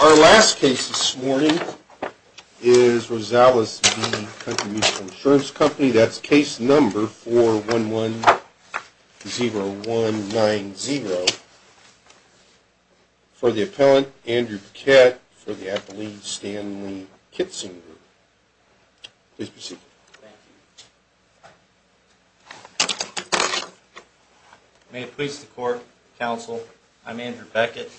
Our last case this morning is Rosales v. Country Mutual Insurance Company. That's case number 4110190. For the appellant, Andrew Paquette, for the appellee, Stanley Kitzinger. Please proceed. Thank you. May it please the court, counsel, I'm Andrew Beckett.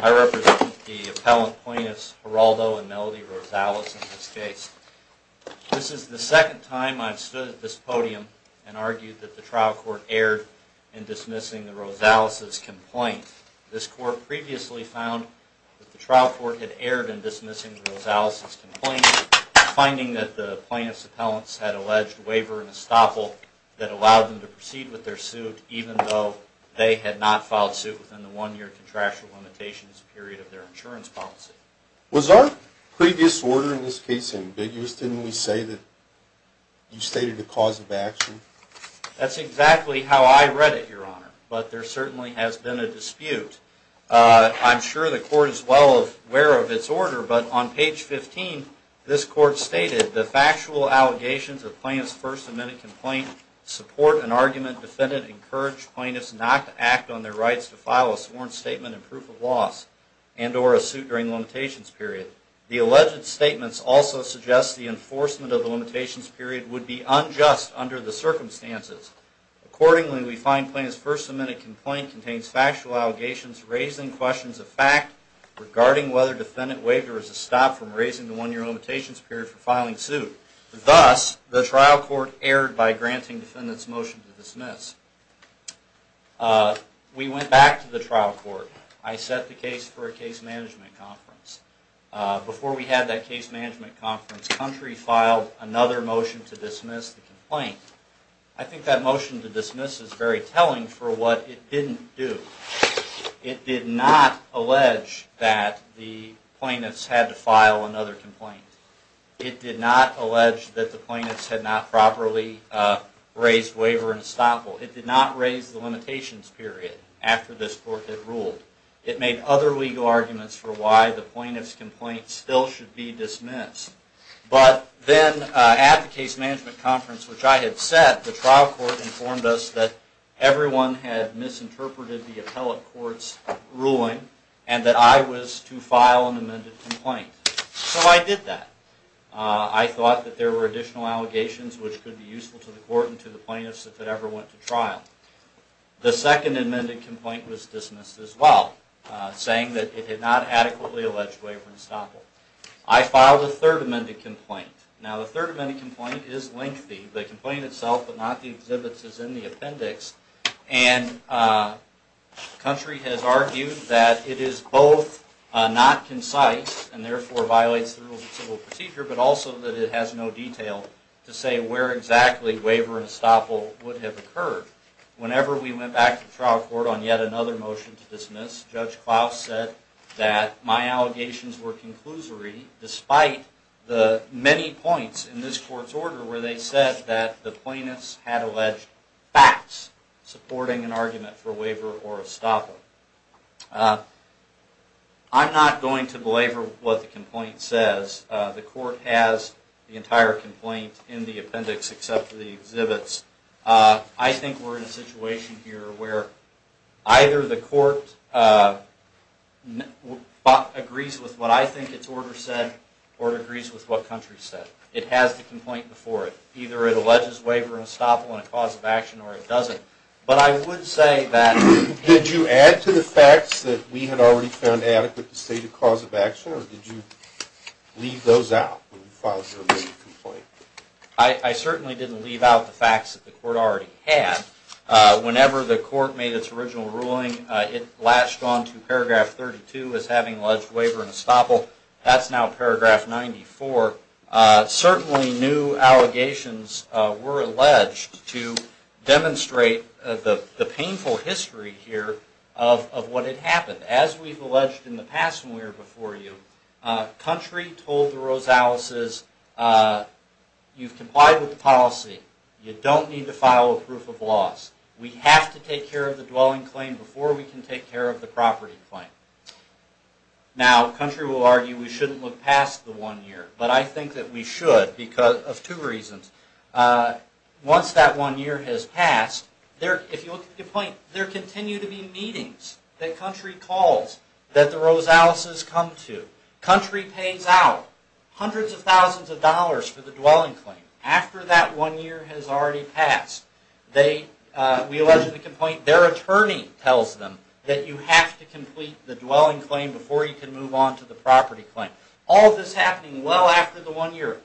I represent the appellant plaintiffs Geraldo and Melody Rosales in this case. This is the second time I've stood at this podium and argued that the trial court erred in dismissing the Rosales' complaint. This court previously found that the trial court had erred in dismissing the Rosales' complaint, finding that the plaintiffs' appellants had alleged waiver and estoppel that allowed them to proceed with their suit even though they had not filed suit within the one-year contractual limitations period of their insurance policy. Was our previous order in this case ambiguous? Didn't we say that you stated a cause of action? That's exactly how I read it, Your Honor, but there certainly has been a dispute. I'm sure the court is well aware of its order, but on page 15, this court stated, The factual allegations of plaintiff's first amendment complaint support an argument defendant encouraged plaintiffs not to act on their rights to file a sworn statement and proof of loss and or a suit during the limitations period. The alleged statements also suggest the enforcement of the limitations period would be unjust under the circumstances. Accordingly, we find plaintiff's first amendment complaint contains factual allegations raising questions of fact regarding whether defendant's waiver is a stop from raising the one-year limitations period for filing suit. Thus, the trial court erred by granting defendant's motion to dismiss. We went back to the trial court. I set the case for a case management conference. Before we had that case management conference, country filed another motion to dismiss the complaint. I think that motion to dismiss is very telling for what it didn't do. It did not allege that the plaintiffs had to file another complaint. It did not allege that the plaintiffs had not properly raised waiver and estoppel. It did not raise the limitations period after this court had ruled. It made other legal arguments for why the plaintiff's complaint still should be dismissed. But then at the case management conference, which I had set, the trial court informed us that everyone had misinterpreted the appellate court's ruling and that I was to file an amended complaint. So I did that. I thought that there were additional allegations which could be useful to the court and to the plaintiffs if it ever went to trial. The second amended complaint was dismissed as well, saying that it had not adequately alleged waiver and estoppel. I filed a third amended complaint. Now the third amended complaint is lengthy. The complaint itself, but not the exhibits, is in the appendix. Country has argued that it is both not concise and therefore violates the rules of civil procedure, but also that it has no detail to say where exactly waiver and estoppel would have occurred. Whenever we went back to the trial court on yet another motion to dismiss, Judge Klaus said that my allegations were conclusory, despite the many points in this court's order where they said that the plaintiffs had alleged facts supporting an argument for waiver or estoppel. I'm not going to belabor what the complaint says. The court has the entire complaint in the appendix except for the exhibits. I think we're in a situation here where either the court agrees with what I think its order said, or it agrees with what Country said. It has the complaint before it. Either it alleges waiver and estoppel in a cause of action, or it doesn't. Did you add to the facts that we had already found adequate to state a cause of action, or did you leave those out? I certainly didn't leave out the facts that the court already had. Whenever the court made its original ruling, it latched onto paragraph 32 as having alleged waiver and estoppel. That's now paragraph 94. Certainly new allegations were alleged to demonstrate the painful history here of what had happened. As we've alleged in the past when we were before you, Country told the Rosaleses, you've complied with the policy. You don't need to file a proof of loss. We have to take care of the dwelling claim before we can take care of the property claim. Now, Country will argue we shouldn't look past the one year, but I think that we should because of two reasons. Once that one year has passed, if you look at the complaint, there continue to be meetings that Country calls that the Rosaleses come to. Country pays out hundreds of thousands of dollars for the dwelling claim after that one year has already passed. We allege in the complaint their attorney tells them that you have to complete the dwelling claim before you can move on to the property claim. All of this happening well after the one year.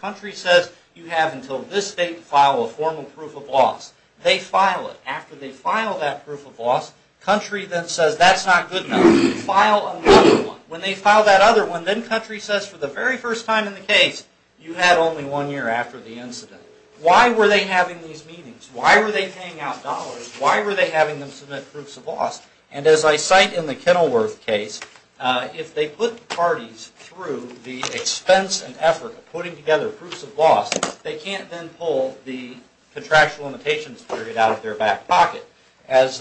Country says you have until this date to file a formal proof of loss. They file it. After they file that proof of loss, Country then says that's not good enough. File another one. When they file that other one, then Country says for the very first time in the case, you had only one year after the incident. Why were they having these meetings? Why were they paying out dollars? Why were they having them submit proofs of loss? As I cite in the Kenilworth case, if they put parties through the expense and effort of putting together proofs of loss, they can't then pull the contractual limitations period out of their back pocket. As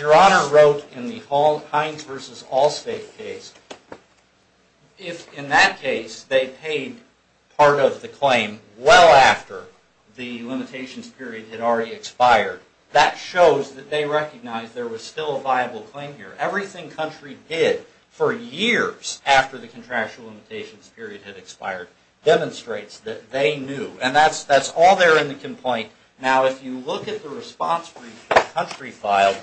Your Honor wrote in the Hines v. Allstate case, if in that case they paid part of the claim well after the limitations period had already expired, that shows that they recognized there was still a viable claim here. Everything Country did for years after the contractual limitations period had expired demonstrates that they knew. That's all there in the complaint. If you look at the response brief that Country filed,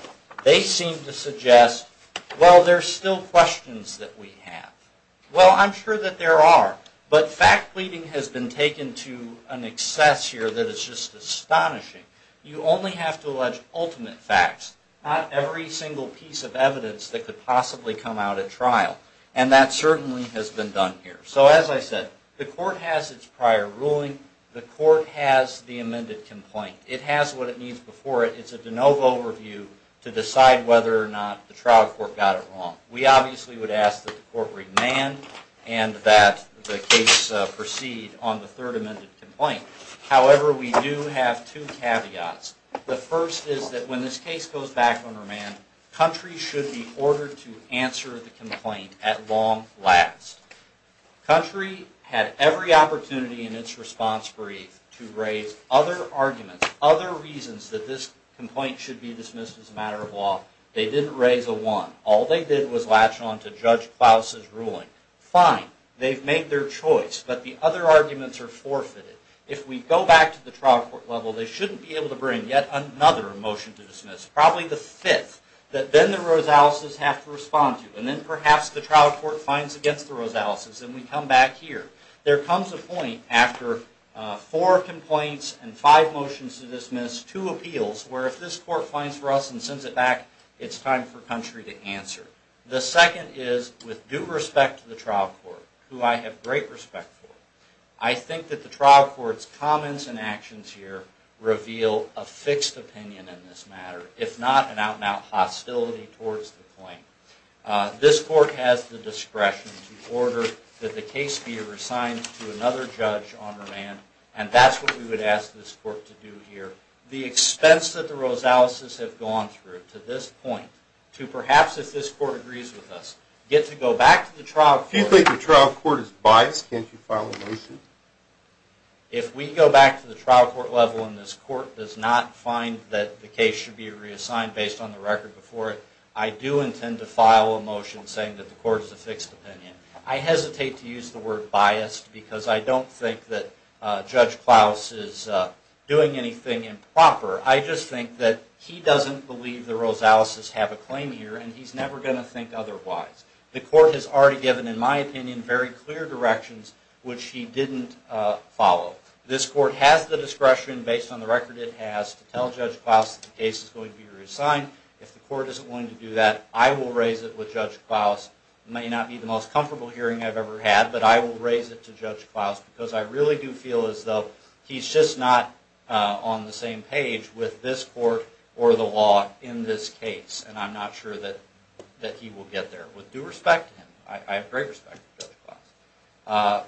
they seem to suggest there are still questions that we have. Well, I'm sure that there are. But fact pleading has been taken to an excess here that is just astonishing. You only have to allege ultimate facts, not every single piece of evidence that could possibly come out at trial. And that certainly has been done here. So as I said, the Court has its prior ruling. The Court has the amended complaint. It has what it needs before it. It's a de novo review to decide whether or not the trial court got it wrong. We obviously would ask that the Court remand and that the case proceed on the third amended complaint. However, we do have two caveats. The first is that when this case goes back on remand, Country should be ordered to answer the complaint at long last. Country had every opportunity in its response brief to raise other arguments, other reasons that this complaint should be dismissed as a matter of law. They didn't raise a one. All they did was latch on to Judge Klaus's ruling. Fine, they've made their choice, but the other arguments are forfeited. If we go back to the trial court level, they shouldn't be able to bring yet another motion to dismiss, probably the fifth, that then the Rosaleses have to respond to. And then perhaps the trial court finds against the Rosaleses and we come back here. There comes a point after four complaints and five motions to dismiss, two appeals, where if this court finds for us and sends it back, it's time for Country to answer. The second is, with due respect to the trial court, who I have great respect for, I think that the trial court's comments and actions here reveal a fixed opinion in this matter, if not an out-and-out hostility towards the claim. This court has the discretion to order that the case be reassigned to another judge on remand, and that's what we would ask this court to do here. The expense that the Rosaleses have gone through to this point, to perhaps, if this court agrees with us, get to go back to the trial court. If the court is biased, can't you file a motion? If we go back to the trial court level and this court does not find that the case should be reassigned based on the record before it, I do intend to file a motion saying that the court is a fixed opinion. I hesitate to use the word biased because I don't think that Judge Klaus is doing anything improper. I just think that he doesn't believe the Rosaleses have a claim here and he's never going to think otherwise. The court has already given, in my opinion, very clear directions which he didn't follow. This court has the discretion, based on the record it has, to tell Judge Klaus that the case is going to be reassigned. If the court isn't willing to do that, I will raise it with Judge Klaus. I have great respect for Judge Klaus.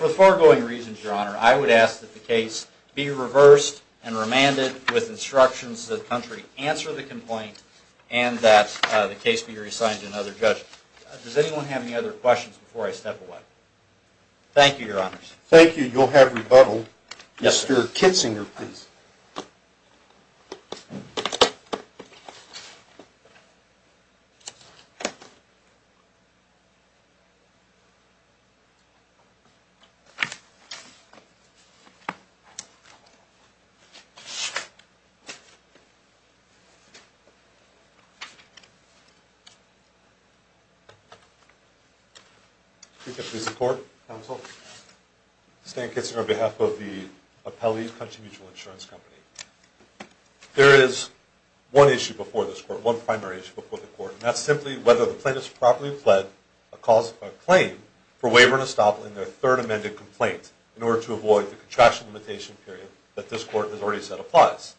For the foregoing reasons, Your Honor, I would ask that the case be reversed and remanded with instructions that the country answer the complaint and that the case be reassigned to another judge. Does anyone have any other questions before I step away? Chief Justice of the Court, Counsel, Stan Kitzinger on behalf of the Appellee Country Mutual Insurance Company. There is one issue before this court, one primary issue before the court, and that's simply whether the plaintiffs properly pled a claim for waiver and estoppel in their third amended complaint in order to avoid the contraction limitation period that this court has already said applies.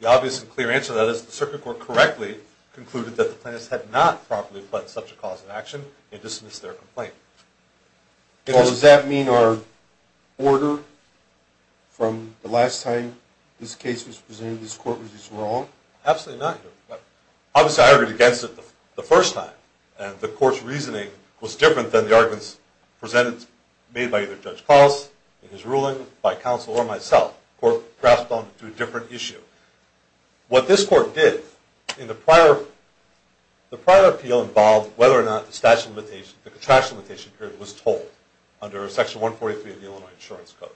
The obvious and clear answer to that is the Circuit Court correctly concluded that the plaintiffs had not properly pled such a cause of action and dismissed their complaint. Well, does that mean our order from the last time this case was presented to this court was wrong? Absolutely not, Your Honor. Obviously, I argued against it the first time, and the court's reasoning was different than the arguments presented, made by either Judge Klaus in his ruling, by counsel, or myself. The court grasped onto a different issue. What this court did in the prior appeal involved whether or not the contraction limitation period was told under Section 143 of the Illinois Insurance Code.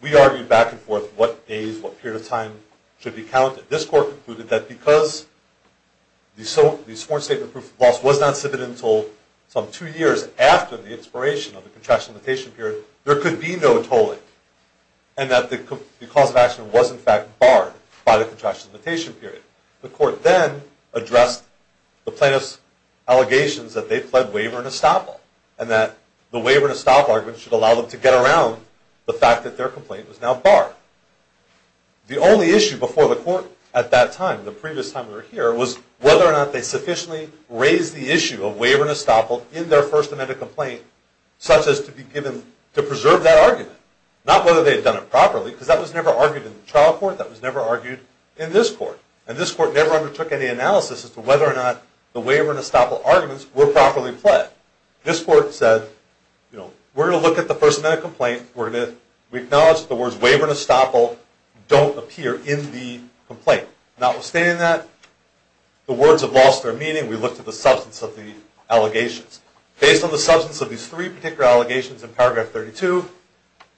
We argued back and forth what days, what period of time should be counted. This court concluded that because the sworn statement proof of loss was not submitted until some two years after the expiration of the contraction limitation period, there could be no tolling, and that the cause of action was, in fact, barred by the contraction limitation period. The court then addressed the plaintiffs' allegations that they pled waiver and estoppel, and that the waiver and estoppel argument should allow them to get around the fact that their complaint was now barred. The only issue before the court at that time, the previous time we were here, was whether or not they sufficiently raised the issue of waiver and estoppel in their First Amendment complaint, such as to be given to preserve that argument. Not whether they had done it properly, because that was never argued in the trial court, that was never argued in this court. And this court never undertook any analysis as to whether or not the waiver and estoppel arguments were properly pled. This court said, we're going to look at the First Amendment complaint, we acknowledge that the words waiver and estoppel don't appear in the complaint. Notwithstanding that, the words have lost their meaning. We looked at the substance of the allegations. Based on the substance of these three particular allegations in paragraph 32,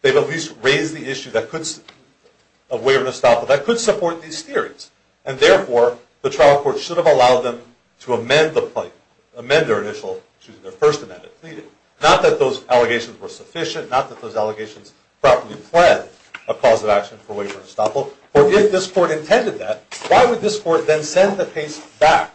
they've at least raised the issue of waiver and estoppel that could support these theories. And therefore, the trial court should have allowed them to amend their initial First Amendment pleading. Not that those allegations were sufficient, not that those allegations properly pled a cause of action for waiver and estoppel, but if this court intended that, why would this court then send the case back,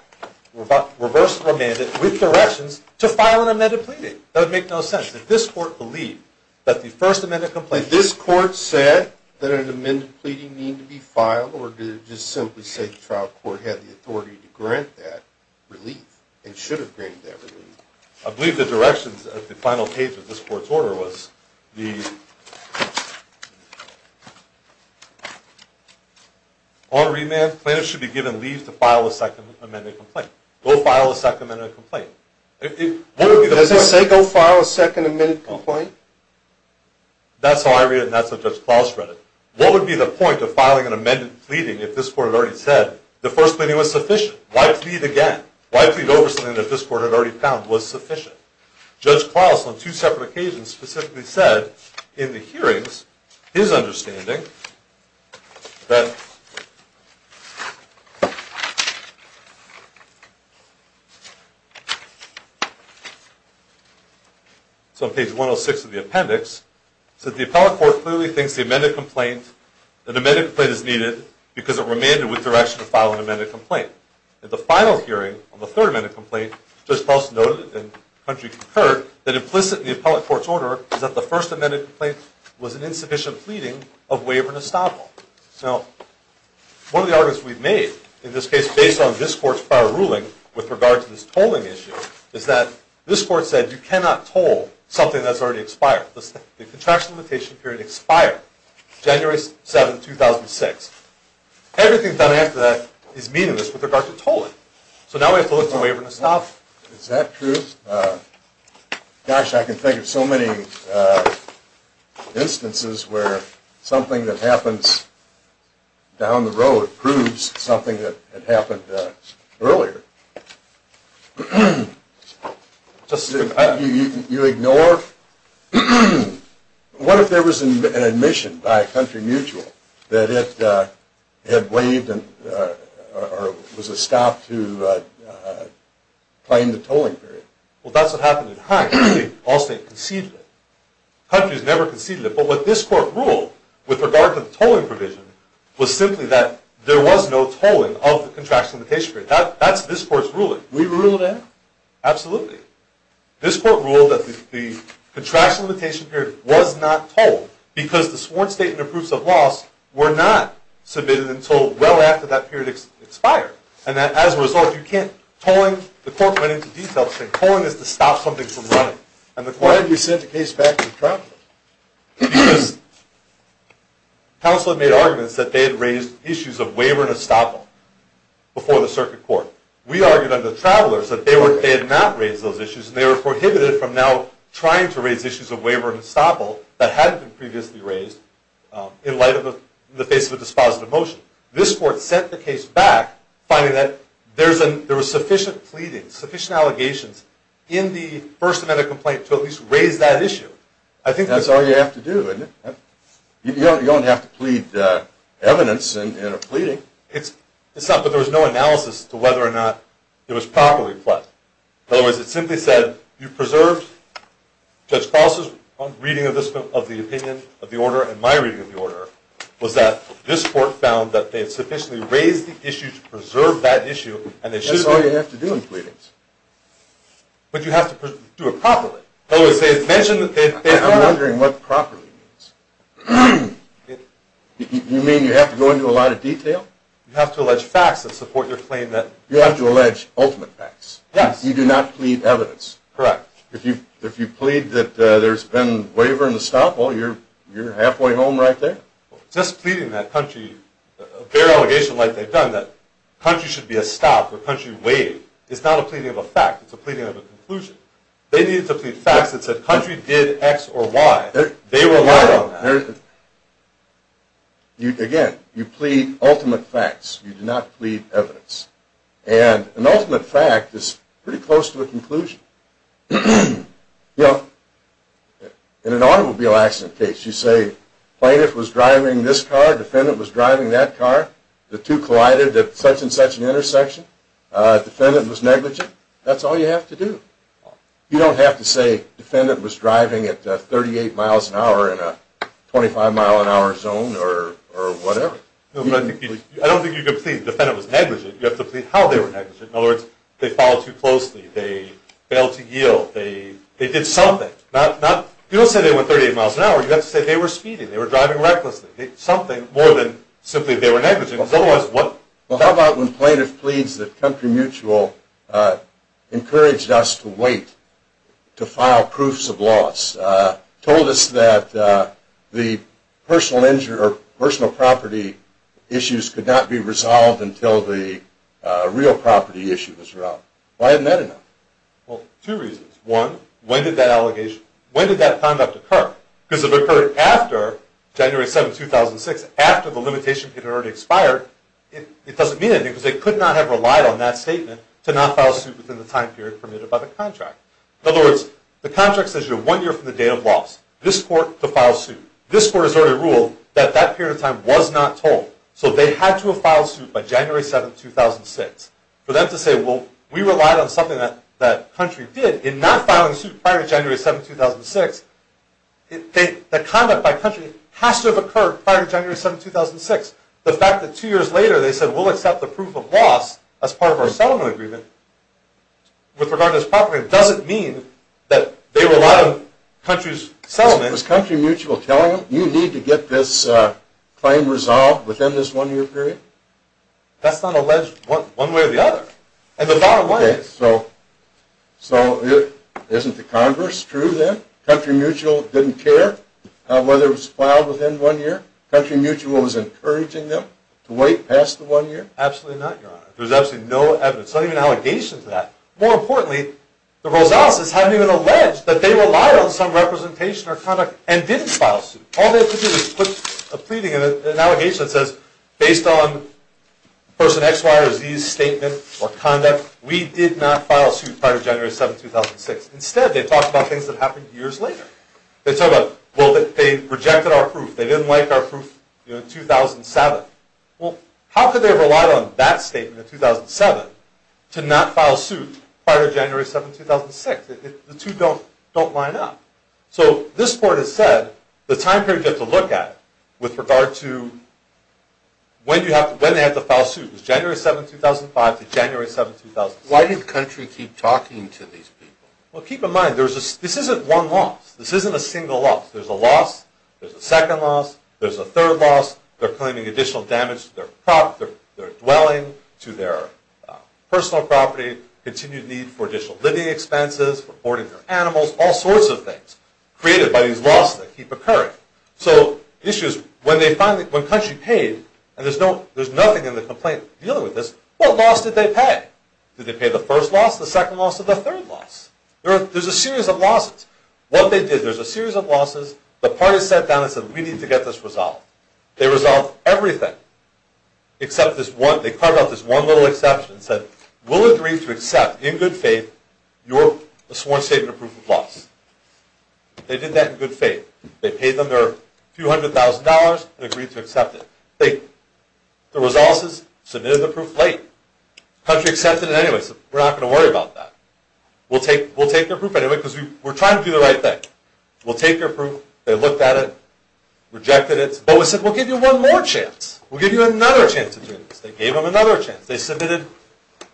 reverse the mandate, with directions to file an amended pleading? That would make no sense. If this court believed that the First Amendment complaint... Did this court say that an amended pleading needed to be filed, or did it just simply say the trial court had the authority to grant that relief, and should have granted that relief? I believe the directions of the final page of this court's order was the... On remand, plaintiffs should be given leave to file a Second Amendment complaint. Go file a Second Amendment complaint. Does it say go file a Second Amendment complaint? That's how I read it, and that's how Judge Claus read it. What would be the point of filing an amended pleading if this court had already said the First Amendment was sufficient? Why plead again? Why plead over something that this court had already found was sufficient? Judge Claus, on two separate occasions, specifically said, in the hearings, his understanding, that...... So on page 106 of the appendix, it said, the appellate court clearly thinks the amended complaint is needed because it remanded with direction to file an amended complaint. At the final hearing, on the Third Amendment complaint, Judge Claus noted, and the country concurred, that implicit in the appellate court's order is that the First Amendment complaint was an insufficient pleading of waiver and estoppel. Now, one of the arguments we've made, in this case, based on this court's prior ruling, with regard to this tolling issue, is that this court said, you cannot toll something that's already expired. The contraction limitation period expired January 7, 2006. Everything done after that is meaningless with regard to tolling. So now we have to look to waiver and estoppel. Is that true? Gosh, I can think of so many instances where something that happens down the road proves something that happened earlier. You ignore... What if there was an admission by a country mutual that it had waived or was estopped to claim the tolling period? Well, that's what happened in Hague. All state conceded it. Countries never conceded it. But what this court ruled, with regard to the tolling provision, was simply that there was no tolling of the contraction limitation period. That's this court's ruling. We ruled that? Absolutely. This court ruled that the contraction limitation period was not tolled because the sworn statement of proofs of loss were not submitted until well after that period expired. And that, as a result, you can't tolling... The court went into detail saying tolling is to stop something from running. Why did you send the case back to the traveler? Counsel had made arguments that they had raised issues of waiver and estoppel before the circuit court. We argued under the travelers that they had not raised those issues and they were prohibited from now trying to raise issues of waiver and estoppel that hadn't been previously raised in light of the face of a dispositive motion. This court sent the case back finding that there was sufficient pleading, sufficient allegations, in the first amendment complaint to at least raise that issue. That's all you have to do. You don't have to plead evidence in a pleading. But there was no analysis to whether or not it was properly pled. In other words, it simply said, you preserved Judge Foss' reading of the opinion of the order and my reading of the order was that this court found that they had sufficiently raised the issue to preserve that issue. That's all you have to do in pleadings. But you have to do it properly. I'm wondering what properly means. You mean you have to go into a lot of detail? You have to allege facts that support your claim that... You have to allege ultimate facts. Yes. You do not plead evidence. Correct. If you plead that there's been waiver and estoppel, you're halfway home right there. Just pleading that country, a bare allegation like they've done, that country should be estopped or country waived, it's not a pleading of a fact. It's a pleading of a conclusion. They needed to plead facts that said country did X or Y. They relied on that. Again, you plead ultimate facts. You do not plead evidence. And an ultimate fact is pretty close to a conclusion. In an automobile accident case, you say plaintiff was driving this car, defendant was driving that car, the two collided at such and such an intersection, defendant was negligent. That's all you have to do. You don't have to say defendant was driving at 38 miles an hour in a 25 mile an hour zone or whatever. I don't think you can plead defendant was negligent. You have to plead how they were negligent. In other words, they followed too closely, they failed to yield, they did something. You don't say they went 38 miles an hour. You have to say they were speeding, they were driving recklessly. Something more than simply they were negligent. Well, how about when plaintiff pleads that Country Mutual encouraged us to wait to file proofs of loss, told us that the personal property issues could not be resolved until the real property issue was resolved. Why isn't that enough? Well, two reasons. One, when did that conduct occur? Because if it occurred after January 7, 2006, after the limitation period had already expired, it doesn't mean anything because they could not have relied on that statement to not file suit within the time period permitted by the contract. In other words, the contract says you're one year from the date of loss. This court to file suit. This court has already ruled that that period of time was not told. So they had to have filed suit by January 7, 2006. For them to say, well, we relied on something that Country did in not filing suit prior to January 7, 2006, the conduct by Country has to have occurred prior to January 7, 2006. The fact that two years later they said we'll accept the proof of loss as part of our settlement agreement with regard to this property doesn't mean that they relied on Country's settlement. Was Country Mutual telling them you need to get this claim resolved within this one-year period? That's not alleged one way or the other. And the bottom line is... Okay, so isn't the converse true then? Country Mutual didn't care whether it was filed within one year? Country Mutual was encouraging them to wait past the one year? Absolutely not, Your Honor. There's absolutely no evidence. There's not even an allegation to that. More importantly, the Rosaleses haven't even alleged that they relied on some representation or conduct and didn't file suit. All they have to do is put a pleading, an allegation that says, based on person X, Y, or Z's statement or conduct, we did not file suit prior to January 7, 2006. Instead, they talk about things that happened years later. They talk about, well, they rejected our proof. They didn't like our proof in 2007. Well, how could they have relied on that statement in 2007 to not file suit prior to January 7, 2006? The two don't line up. So this Court has said the time period you have to look at with regard to when they had to file suit was January 7, 2005 to January 7, 2006. Why did Country keep talking to these people? Well, keep in mind, this isn't one loss. This isn't a single loss. There's a loss. There's a second loss. There's a third loss. They're claiming additional damage to their dwelling, to their personal property, continued need for additional living expenses, for hoarding their animals, all sorts of things created by these losses that keep occurring. So the issue is, when Country paid, and there's nothing in the complaint dealing with this, what loss did they pay? Did they pay the first loss, the second loss, or the third loss? There's a series of losses. What they did, there's a series of losses. The parties sat down and said, we need to get this resolved. They resolved everything except this one. They talked about this one little exception and said, we'll agree to accept, in good faith, your sworn statement of proof of loss. They did that in good faith. They paid them their few hundred thousand dollars and agreed to accept it. The resolvers submitted the proof late. Country accepted it anyway, so we're not going to worry about that. We'll take their proof anyway because we're trying to do the right thing. We'll take their proof. They looked at it, rejected it. But we said, we'll give you one more chance. We'll give you another chance to do this. They gave them another chance. They submitted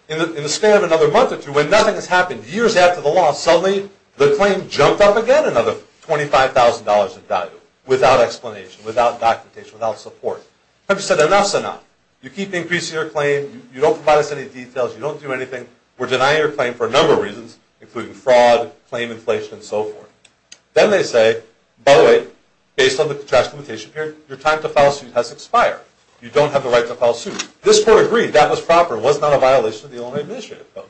in the span of another month or two. When nothing has happened, years after the loss, suddenly the claim jumped up again another $25,000 in value without explanation, without documentation, without support. Country said, enough's enough. You keep increasing your claim. You don't provide us any details. You don't do anything. We're denying your claim for a number of reasons, including fraud, claim inflation, and so forth. Then they say, by the way, based on the contractual limitation period, your time to file a suit has expired. You don't have the right to file a suit. This court agreed. That was proper. It was not a violation of the Illinois Administrative Code.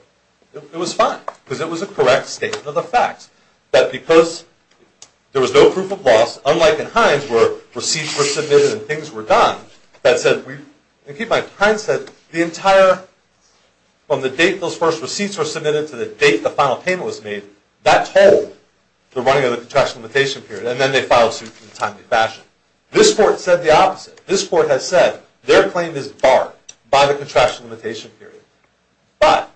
It was fine because it was a correct statement of the facts. That because there was no proof of loss, unlike in Hines where receipts were submitted and things were done, that said, and keep in mind, Hines said the entire, from the date those first receipts were submitted to the date the final payment was made, that told the running of the contractual limitation period. And then they filed a suit in a timely fashion. This court said the opposite. This court has said their claim is barred by the contractual limitation period. But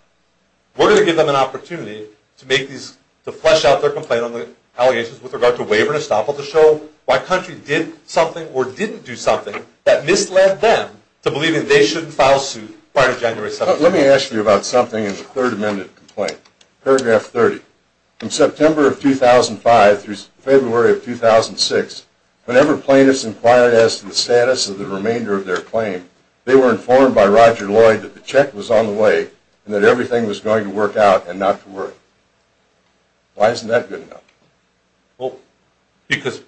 we're going to give them an opportunity to flesh out their complaint on the allegations with regard to waiver and estoppel to show why country did something or didn't do something that misled them to believe that they shouldn't file a suit prior to January 7th. Let me ask you about something in the Third Amendment complaint. Paragraph 30. From September of 2005 through February of 2006, whenever plaintiffs inquired as to the status of the remainder of their claim, they were informed by Roger Lloyd that the check was on the way and that everything was going to work out and not to worry. Why isn't that good enough? Because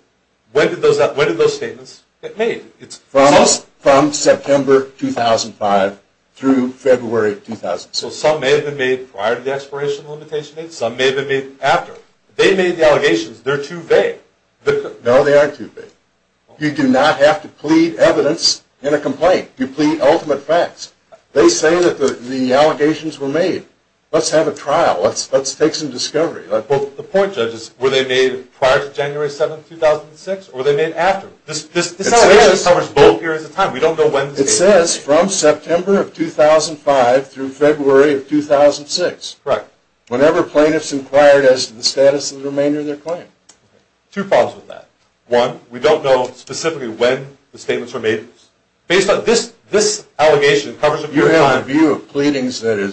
when did those statements get made? From September 2005 through February of 2006. So some may have been made prior to the expiration of the limitation date, some may have been made after. They made the allegations. They're too vague. No, they aren't too vague. You do not have to plead evidence in a complaint. You plead ultimate facts. They say that the allegations were made. Let's have a trial. Let's take some discovery. The point, Judge, is were they made prior to January 7th, 2006 or were they made after? This allegation covers both periods of time. We don't know when the statements were made. It says from September of 2005 through February of 2006. Correct. Whenever plaintiffs inquired as to the status of the remainder of their claim. Two problems with that. One, we don't know specifically when the statements were made. Based on this allegation, it covers a period of time. You have a view of pleadings that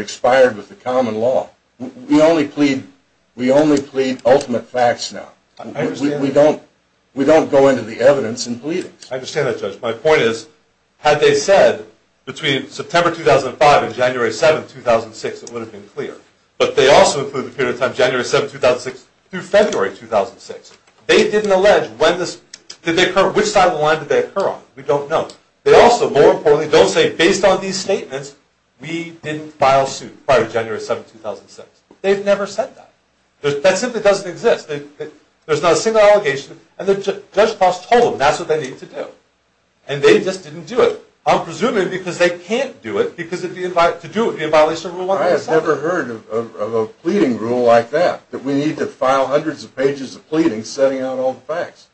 expired with the common law. We only plead ultimate facts now. I understand that. We don't go into the evidence in pleadings. I understand that, Judge. My point is, had they said between September 2005 and January 7th, 2006, it would have been clear. But they also include the period of time January 7th, 2006 through February 2006. They didn't allege which side of the line did they occur on. We don't know. They also, more importantly, don't say, based on these statements, we didn't file suit prior to January 7th, 2006. They've never said that. That simply doesn't exist. There's not a single allegation. And Judge Cross told them that's what they need to do. And they just didn't do it. I'm presuming because they can't do it because to do it would be in violation of Rule 107. I have never heard of a pleading rule like that, that we need to file hundreds of pages of pleadings setting out all the facts.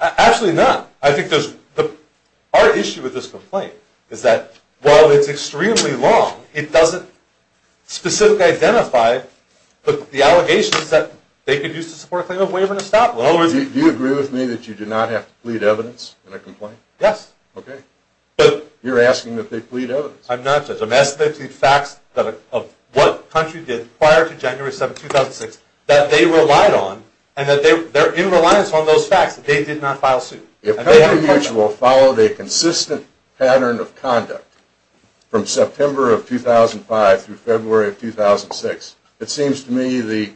Absolutely not. Our issue with this complaint is that while it's extremely long, it doesn't specifically identify the allegations that they could use to support a claim of waiver and a stop. Do you agree with me that you do not have to plead evidence in a complaint? Yes. Okay. You're asking that they plead evidence. I'm not, Judge. I'm asking that they plead facts of what country did prior to January 7th, 2006 that they relied on and that they're in reliance on those facts that they did not file suit. If Country Mutual followed a consistent pattern of conduct from September of 2005 through February of 2006, it seems to me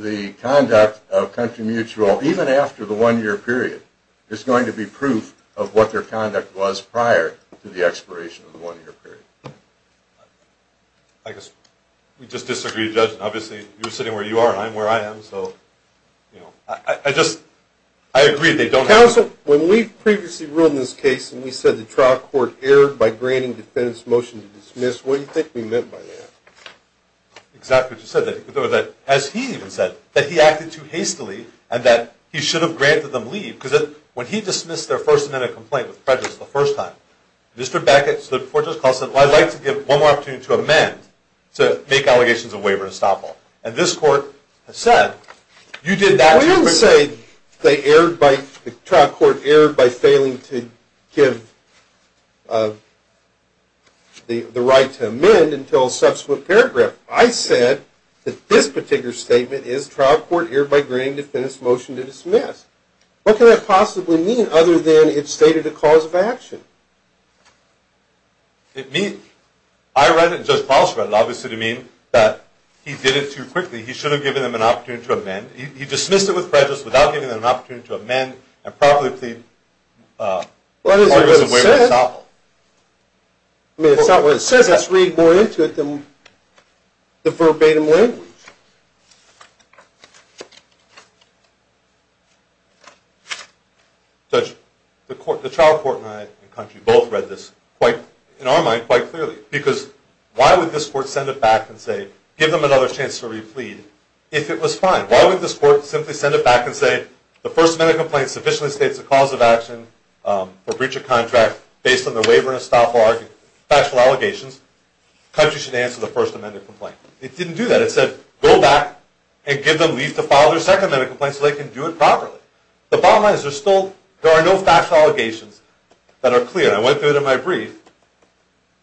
the conduct of Country Mutual, even after the one-year period, is going to be proof of what their conduct was prior to the expiration of the one-year period. I guess we just disagree, Judge. Obviously, you're sitting where you are and I'm where I am, so I agree they don't have to plead evidence. Counsel, when we previously ruled in this case and we said the trial court erred by granting defendants' motion to dismiss, what do you think we meant by that? Exactly what you said. As he even said, that he acted too hastily and that he should have granted them leave because when he dismissed their first amendment complaint with prejudice the first time, Mr. Beckett stood before Judge Kahl said, well, I'd like to give one more opportunity to amend to make allegations of waiver and estoppel. And this court has said, you did that. We didn't say the trial court erred by failing to give the right to amend until a subsequent paragraph. I said that this particular statement is trial court erred by granting defendants' motion to dismiss. What could that possibly mean other than it stated a cause of action? I read it and Judge Kahl read it. Obviously, it would mean that he did it too quickly. He should have given them an opportunity to amend. He dismissed it with prejudice without giving them an opportunity to amend and properly plead What is it that it says? It says let's read more into it than the verbatim language. Judge, the trial court and I and country both read this in our mind quite clearly because why would this court send it back and say give them another chance to replead if it was fine? Why would this court simply send it back and say the first amendment complaint sufficiently states it's a cause of action for breach of contract based on the waiver and estoppel factual allegations. Country should answer the first amendment complaint. It didn't do that. It said go back and give them leave to file their second amendment complaint so they can do it properly. The bottom line is there are no factual allegations that are clear. I went through it in my brief.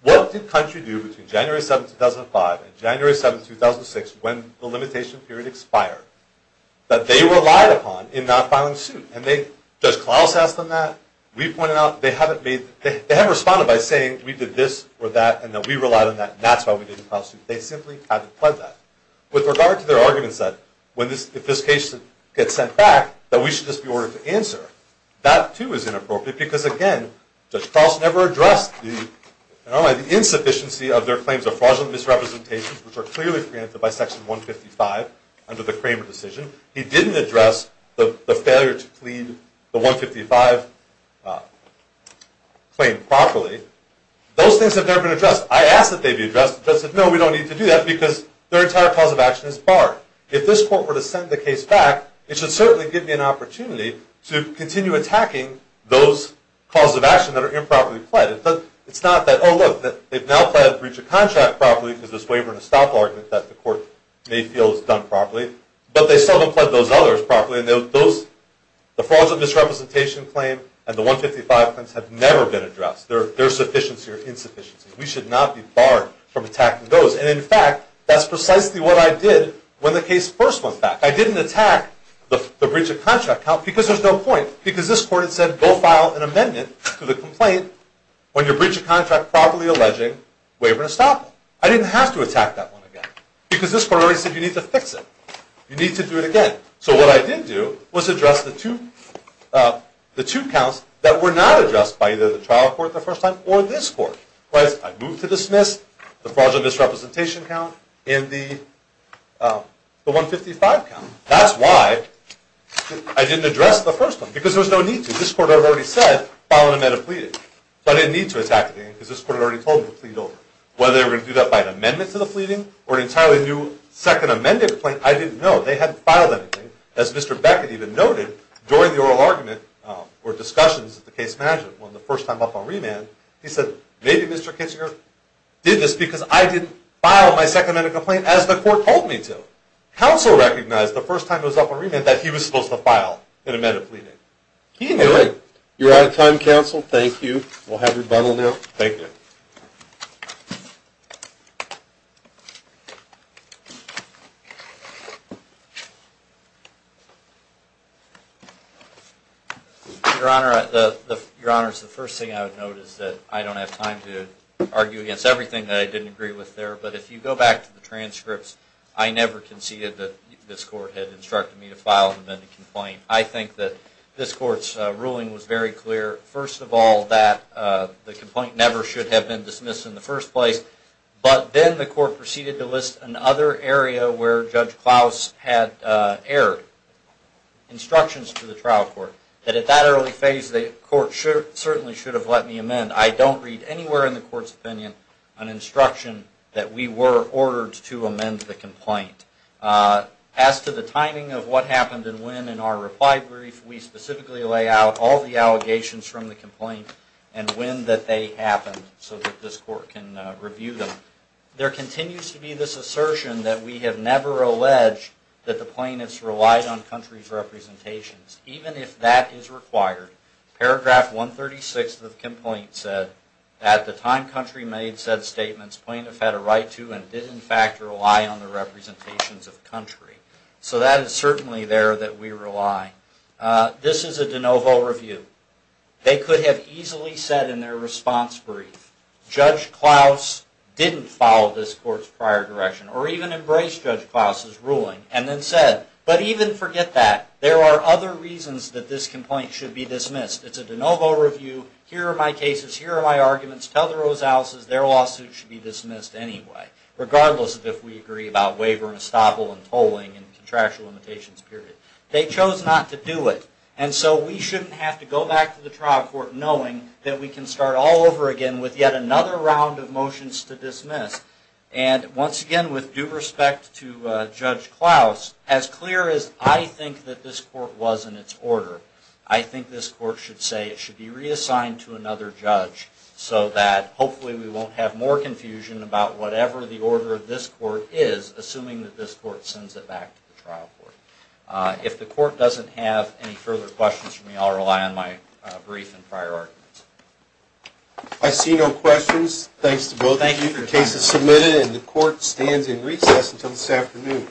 What did country do between January 7, 2005 and January 7, 2006 when the limitation period expired that they relied upon in not filing suit? Judge Klaus asked them that. We pointed out they haven't responded by saying we did this or that and that we relied on that and that's why we didn't file suit. They simply haven't pled that. With regard to their arguments that if this case gets sent back that we should just be ordered to answer, that too is inappropriate because again Judge Klaus never addressed the insufficiency of their claims of fraudulent misrepresentations which are clearly preempted by section 155 under the Kramer decision. He didn't address the failure to plead the 155 claim properly. Those things have never been addressed. I asked that they be addressed. The judge said no, we don't need to do that because their entire cause of action is barred. If this court were to send the case back, it should certainly give me an opportunity to continue attacking those causes of action that are improperly pled. It's not that oh look, they've now pled breach of contract properly because there's a waiver and a stop argument that the court may feel is done properly. But they still haven't pled those others properly. The fraudulent misrepresentation claim and the 155 claims have never been addressed. They're a sufficiency or insufficiency. We should not be barred from attacking those. And in fact, that's precisely what I did when the case first went back. I didn't attack the breach of contract count because there's no point. Because this court had said go file an amendment to the complaint on your breach of contract properly alleging waiver and a stop. I didn't have to attack that one again because this court already said you need to fix it. You need to do it again. So what I did do was address the two counts that were not addressed by either the trial court the first time or this court. I moved to dismiss the fraudulent misrepresentation count and the 155 count. That's why I didn't address the first one because there was no need to. This court had already said file an amendment of pleading. So I didn't need to attack it again because this court had already told me to plead over. Whether they were going to do that by an amendment to the pleading or an entirely new second amended complaint, I didn't know. They hadn't filed anything. As Mr. Beckett even noted, during the oral argument or discussions at the case management when the first time up on remand, he said maybe Mr. Kitchinger did this because I didn't file my second amended complaint as the court told me to. Counsel recognized the first time it was up on remand that he was supposed to file an amendment of pleading. He knew it. You're out of time, counsel. Thank you. We'll have rebuttal now. Thank you. Your Honor, the first thing I would note is that I don't have time to argue against everything that I didn't agree with there. But if you go back to the transcripts, I never conceded that this court had instructed me to file an amended complaint. I think that this court's ruling was very clear, first of all, that the complaint never should have been dismissed in the first place. But then the court proceeded to list another area where Judge Klaus had erred. Instructions to the trial court that at that early phase the court certainly should have let me amend. I don't read anywhere in the court's opinion an instruction that we were ordered to amend the complaint. As to the timing of what happened and when in our reply brief, we specifically lay out all the allegations from the complaint and when that happened so that this court can review them. There continues to be this assertion that we have never alleged that the plaintiffs relied on country's representations, even if that is required. Paragraph 136 of the complaint said, at the time country made said statements plaintiff had a right to and did in fact rely on the representations of country. So that is certainly there that we rely. This is a de novo review. They could have easily said in their response brief, Judge Klaus didn't follow this court's prior direction or even embrace Judge Klaus's ruling and then said, but even forget that there are other reasons that this complaint should be dismissed. It's a de novo review. Here are my cases. Here are my arguments. Tell the Rosaleses their lawsuit should be dismissed anyway, regardless of if we agree about waiver and estoppel and tolling and contractual limitations period. They chose not to do it. And so we shouldn't have to go back to the trial court knowing that we can start all over again with yet another round of motions to dismiss. And once again, with due respect to Judge Klaus, as clear as I think that this court was in its order, I think this court should say it should be reassigned to another judge so that hopefully we won't have more confusion about whatever the order of this court is, assuming that this court sends it back to the trial court. If the court doesn't have any further questions for me, I'll rely on my brief and prior arguments. I see no questions. Thanks to both of you. The case is submitted and the court stands in recess until this afternoon.